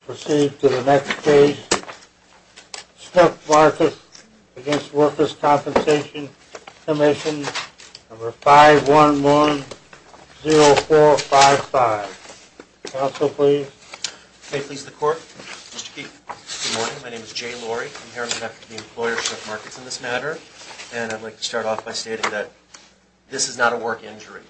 Proceed to the next page. Snook Markets, Inc. v. Workers' Compensation Comm'n Number 511-0455. Counsel, please. May it please the Court. Mr. Keefe, good morning. My name is Jay Lorry. I'm here on behalf of the employer, Snook Markets, in this matter. And I'd like to start off by stating that this is not a work injury.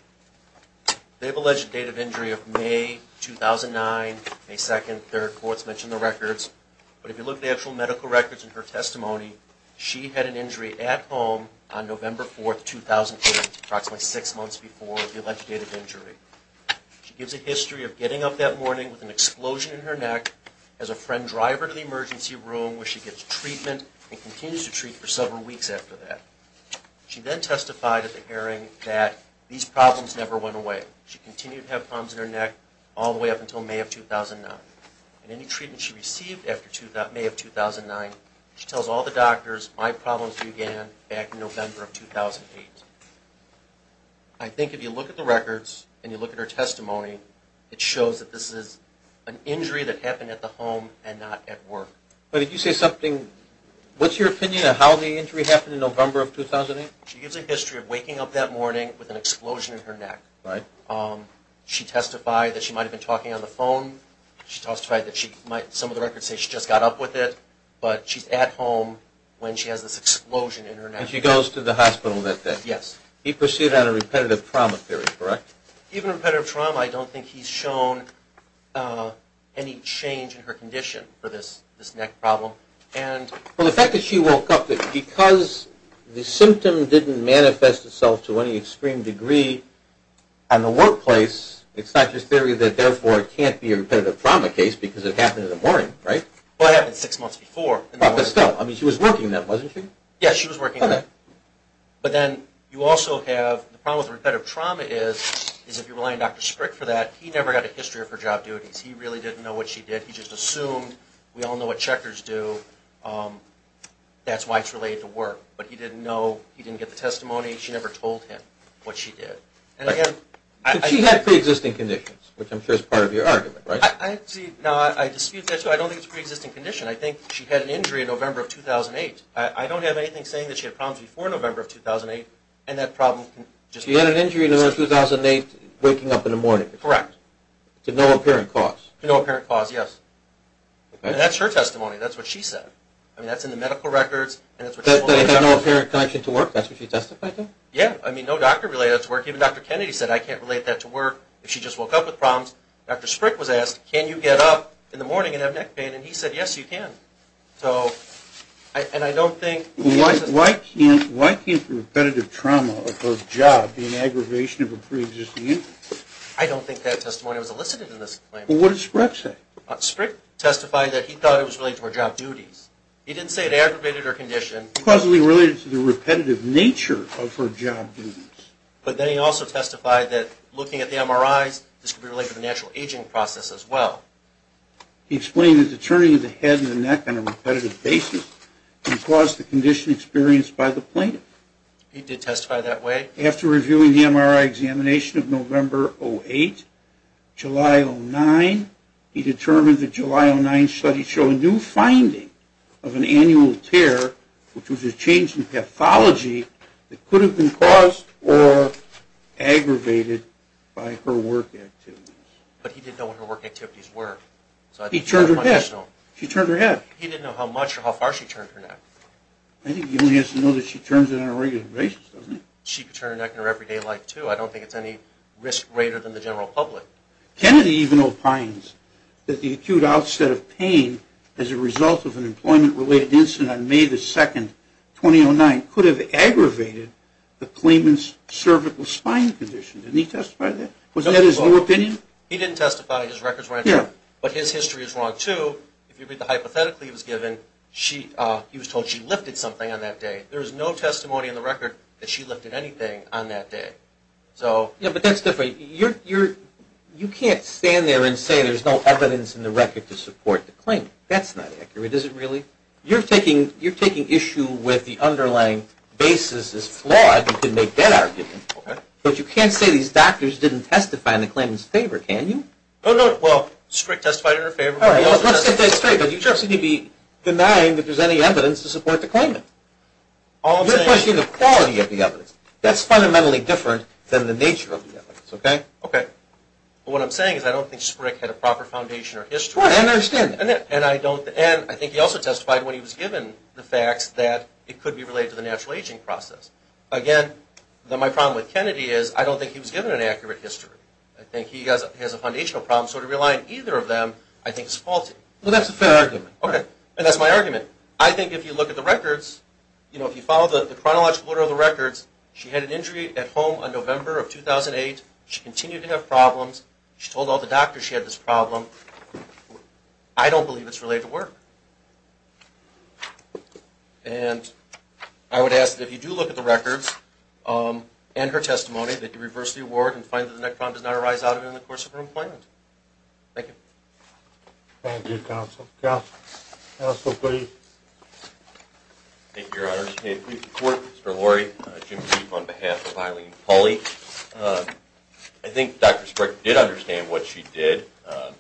They've alleged a date of injury of May 2009, May 2nd. Their courts mentioned the records. But if you look at the actual medical records and her testimony, she had an injury at home on November 4th, 2008, approximately six months before the alleged date of injury. She gives a history of getting up that morning with an explosion in her neck as a friend driver to the emergency room where she gets treatment and continues to treat for several weeks after that. She then testified at the hearing that these problems never went away. She continued to have problems in her neck all the way up until May of 2009. In any treatment she received after May of 2009, she tells all the doctors, my problems began back in November of 2008. I think if you look at the records and you look at her testimony, it shows that this is an injury that happened at the home and not at work. But did you say something? What's your opinion on how the injury happened in November of 2008? She gives a history of waking up that morning with an explosion in her neck. Right. She testified that she might have been talking on the phone. She testified that some of the records say she just got up with it, but she's at home when she has this explosion in her neck. And she goes to the hospital that day. Yes. He pursued on a repetitive trauma theory, correct? Even repetitive trauma, I don't think he's shown any change in her condition for this neck problem. Well, the fact that she woke up, because the symptom didn't manifest itself to any extreme degree on the workplace, it's not just theory that therefore it can't be a repetitive trauma case because it happened in the morning, right? Well, it happened six months before. I mean, she was working then, wasn't she? Yes, she was working then. But then you also have the problem with repetitive trauma is, if you rely on Dr. Sprick for that, he never had a history of her job duties. He really didn't know what she did. He just assumed. We all know what checkers do. That's why it's related to work. But he didn't know. He didn't get the testimony. She never told him what she did. So she had preexisting conditions, which I'm sure is part of your argument, right? Now, I dispute that. I don't think it's a preexisting condition. I think she had an injury in November of 2008. I don't have anything saying that she had problems before November of 2008 and that problem just existed. She had an injury in November of 2008 waking up in the morning. Correct. To no apparent cause. To no apparent cause, yes. And that's her testimony. That's what she said. I mean, that's in the medical records. That they had no apparent connection to work? That's what she testified to? Yeah. I mean, no doctor related to work. Even Dr. Kennedy said, I can't relate that to work. If she just woke up with problems. Dr. Sprick was asked, can you get up in the morning and have neck pain? And he said, yes, you can. And I don't think. Why can't repetitive trauma of her job be an aggravation of a preexisting injury? I don't think that testimony was elicited in this claim. Well, what did Sprick say? Sprick testified that he thought it was related to her job duties. He didn't say it aggravated her condition. It was causally related to the repetitive nature of her job duties. But then he also testified that looking at the MRIs, this could be related to the natural aging process as well. He explained that the turning of the head and the neck on a repetitive basis can cause the condition experienced by the plaintiff. He did testify that way? After reviewing the MRI examination of November 2008, July 2009, he determined that July 2009 studies show a new finding of an annual tear, which was a change in pathology that could have been caused or aggravated by her work activities. But he didn't know what her work activities were. He turned her head. She turned her head. He didn't know how much or how far she turned her neck. I think he only has to know that she turns it on a regular basis, doesn't he? She could turn her neck in her everyday life too. I don't think it's any risk greater than the general public. Kennedy even opines that the acute outset of pain as a result of an employment-related incident on May 2, 2009, could have aggravated the plaintiff's cervical spine condition. Didn't he testify to that? Was that his new opinion? He didn't testify. His records weren't there. But his history is wrong too. If you read the hypothetical he was given, he was told she lifted something on that day. There is no testimony in the record that she lifted anything on that day. But that's different. You can't stand there and say there's no evidence in the record to support the claim. That's not accurate, is it really? You're taking issue with the underlying basis is flawed. You can make that argument. But you can't say these doctors didn't testify in the claimant's favor, can you? No, no. Well, strict testify in her favor. Let's get that straight. But you just need to be denying that there's any evidence to support the claimant. You're questioning the quality of the evidence. That's fundamentally different than the nature of the evidence. Okay? Okay. What I'm saying is I don't think Sprick had a proper foundation or history. I understand that. And I think he also testified when he was given the facts that it could be related to the natural aging process. Again, my problem with Kennedy is I don't think he was given an accurate history. I think he has a foundational problem. So to rely on either of them I think is faulty. Well, that's a fair argument. Okay. And that's my argument. I think if you look at the records, you know, if you follow the chronological order of the records, she had an injury at home on November of 2008. She continued to have problems. She told all the doctors she had this problem. I don't believe it's related to work. And I would ask that if you do look at the records and her testimony, that you reverse the award and find that the necron does not arise out of it in the course of her employment. Thank you. Thank you, Counsel. Counsel, please. Thank you, Your Honors. Can I please report? Mr. Lurie, Jim Keefe on behalf of Eileen Pulley. I think Dr. Sprick did understand what she did.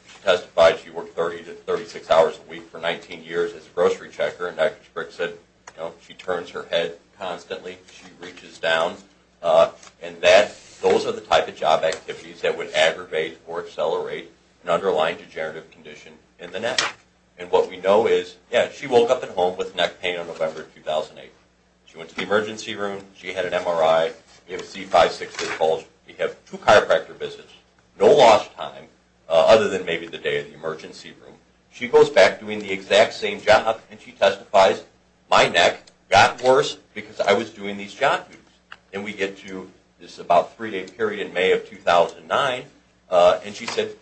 She testified she worked 30 to 36 hours a week for 19 years as a grocery checker, and Dr. Sprick said, you know, she turns her head constantly. She reaches down. And those are the type of job activities that would aggravate or accelerate an underlying degenerative condition in the neck. And what we know is, yeah, she woke up at home with neck pain on November 2008. She went to the emergency room. She had an MRI. We have a C560 pulse. We have two chiropractor visits, no lost time, other than maybe the day of the emergency room. She goes back doing the exact same job, and she testifies, my neck got worse because I was doing these job duties. And we get to this about three-day period in May of 2009, and she said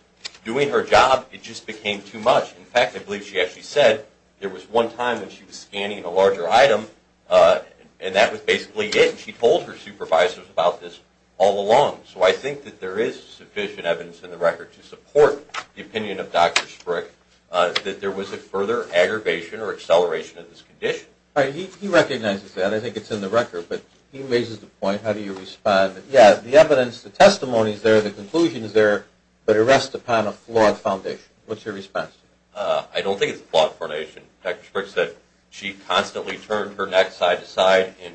doing her job, it just became too much. In fact, I believe she actually said there was one time when she was scanning a larger item, and that was basically it, and she told her supervisors about this all along. So I think that there is sufficient evidence in the record to support the opinion of Dr. Sprick that there was a further aggravation or acceleration of this condition. All right, he recognizes that. I think it's in the record, but he raises the point, how do you respond? Yeah, the evidence, the testimony is there, the conclusion is there, but it rests upon a flawed foundation. What's your response? I don't think it's a flawed foundation. Dr. Sprick said she constantly turned her neck side to side and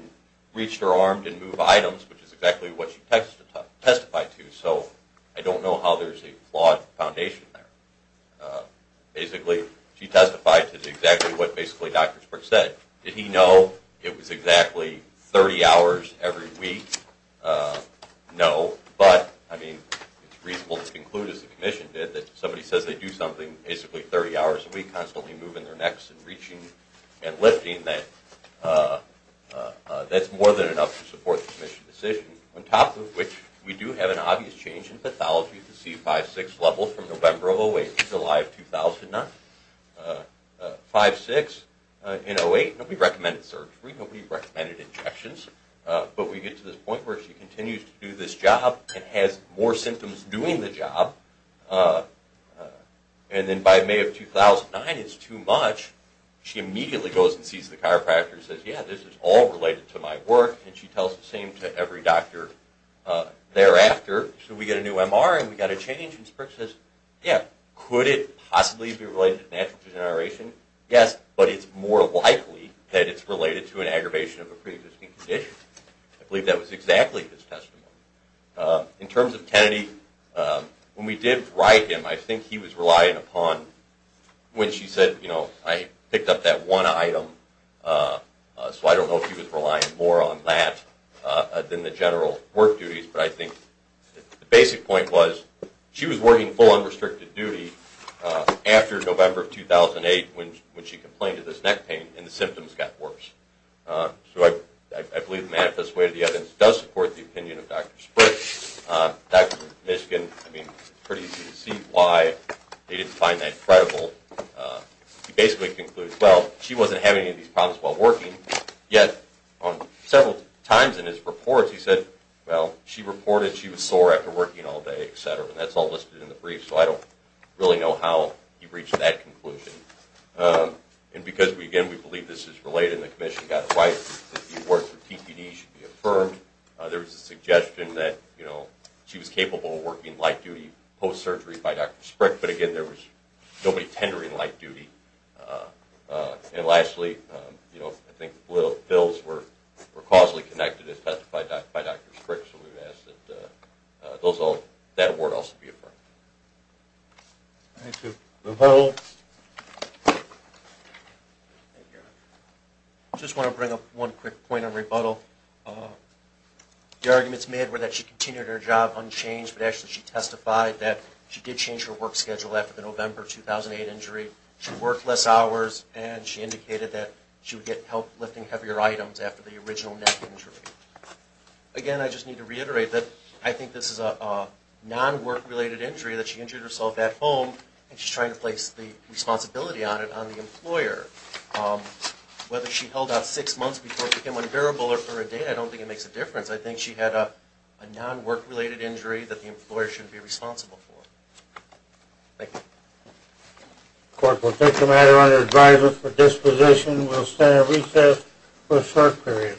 reached her arm, didn't move items, which is exactly what she testified to. So I don't know how there's a flawed foundation there. Basically, she testified to exactly what basically Dr. Sprick said. Did he know it was exactly 30 hours every week? No, but, I mean, it's reasonable to conclude, as the commission did, that if somebody says they do something basically 30 hours a week, constantly moving their necks and reaching and lifting, that that's more than enough to support the commission's decision. On top of which, we do have an obvious change in pathology. You can see 5-6 levels from November of 2008 to July of 2009. 5-6 in 08, nobody recommended surgery, nobody recommended injections, but we get to this point where she continues to do this job and has more symptoms doing the job. And then by May of 2009, it's too much. She immediately goes and sees the chiropractor and says, yeah, this is all related to my work, and she tells the same to every doctor thereafter. So we get a new MR and we got a change, and Sprick says, yeah, could it possibly be related to natural degeneration? Yes, but it's more likely that it's related to an aggravation of a previous condition. I believe that was exactly his testimony. In terms of Kennedy, when we did write him, I think he was relying upon, when she said, you know, I picked up that one item, so I don't know if he was relying more on that than the general work duties, but I think the basic point was she was working full unrestricted duty after November of 2008 when she complained of this neck pain and the symptoms got worse. So I believe the manifest way to the evidence does support the opinion of Dr. Sprick. Dr. Mishkin, I mean, it's pretty easy to see why they didn't find that credible. He basically concludes, well, she wasn't having any of these problems while working, yet several times in his reports he said, well, she reported she was sore after working all day, et cetera, and that's all listed in the brief, so I don't really know how he reached that conclusion. And because, again, we believe this is related and the commission got it right, that the award for PPD should be affirmed. There was a suggestion that she was capable of working light duty post-surgery by Dr. Sprick, but, again, there was nobody tendering light duty. And lastly, I think the bills were causally connected by Dr. Sprick, so we would ask that that award also be affirmed. Thank you. Rebuttal. I just want to bring up one quick point on rebuttal. The arguments made were that she continued her job unchanged, but actually she testified that she did change her work schedule after the November 2008 injury. She worked less hours, and she indicated that she would get help lifting heavier items after the original neck injury. Again, I just need to reiterate that I think this is a non-work-related injury, that she injured herself at home, and she's trying to place the responsibility on it on the employer. Whether she held out six months before it became unbearable or for a day, I don't think it makes a difference. I think she had a non-work-related injury that the employer should be responsible for. Thank you. The court will take the matter under advisement for disposition. We'll stand at recess for a short period.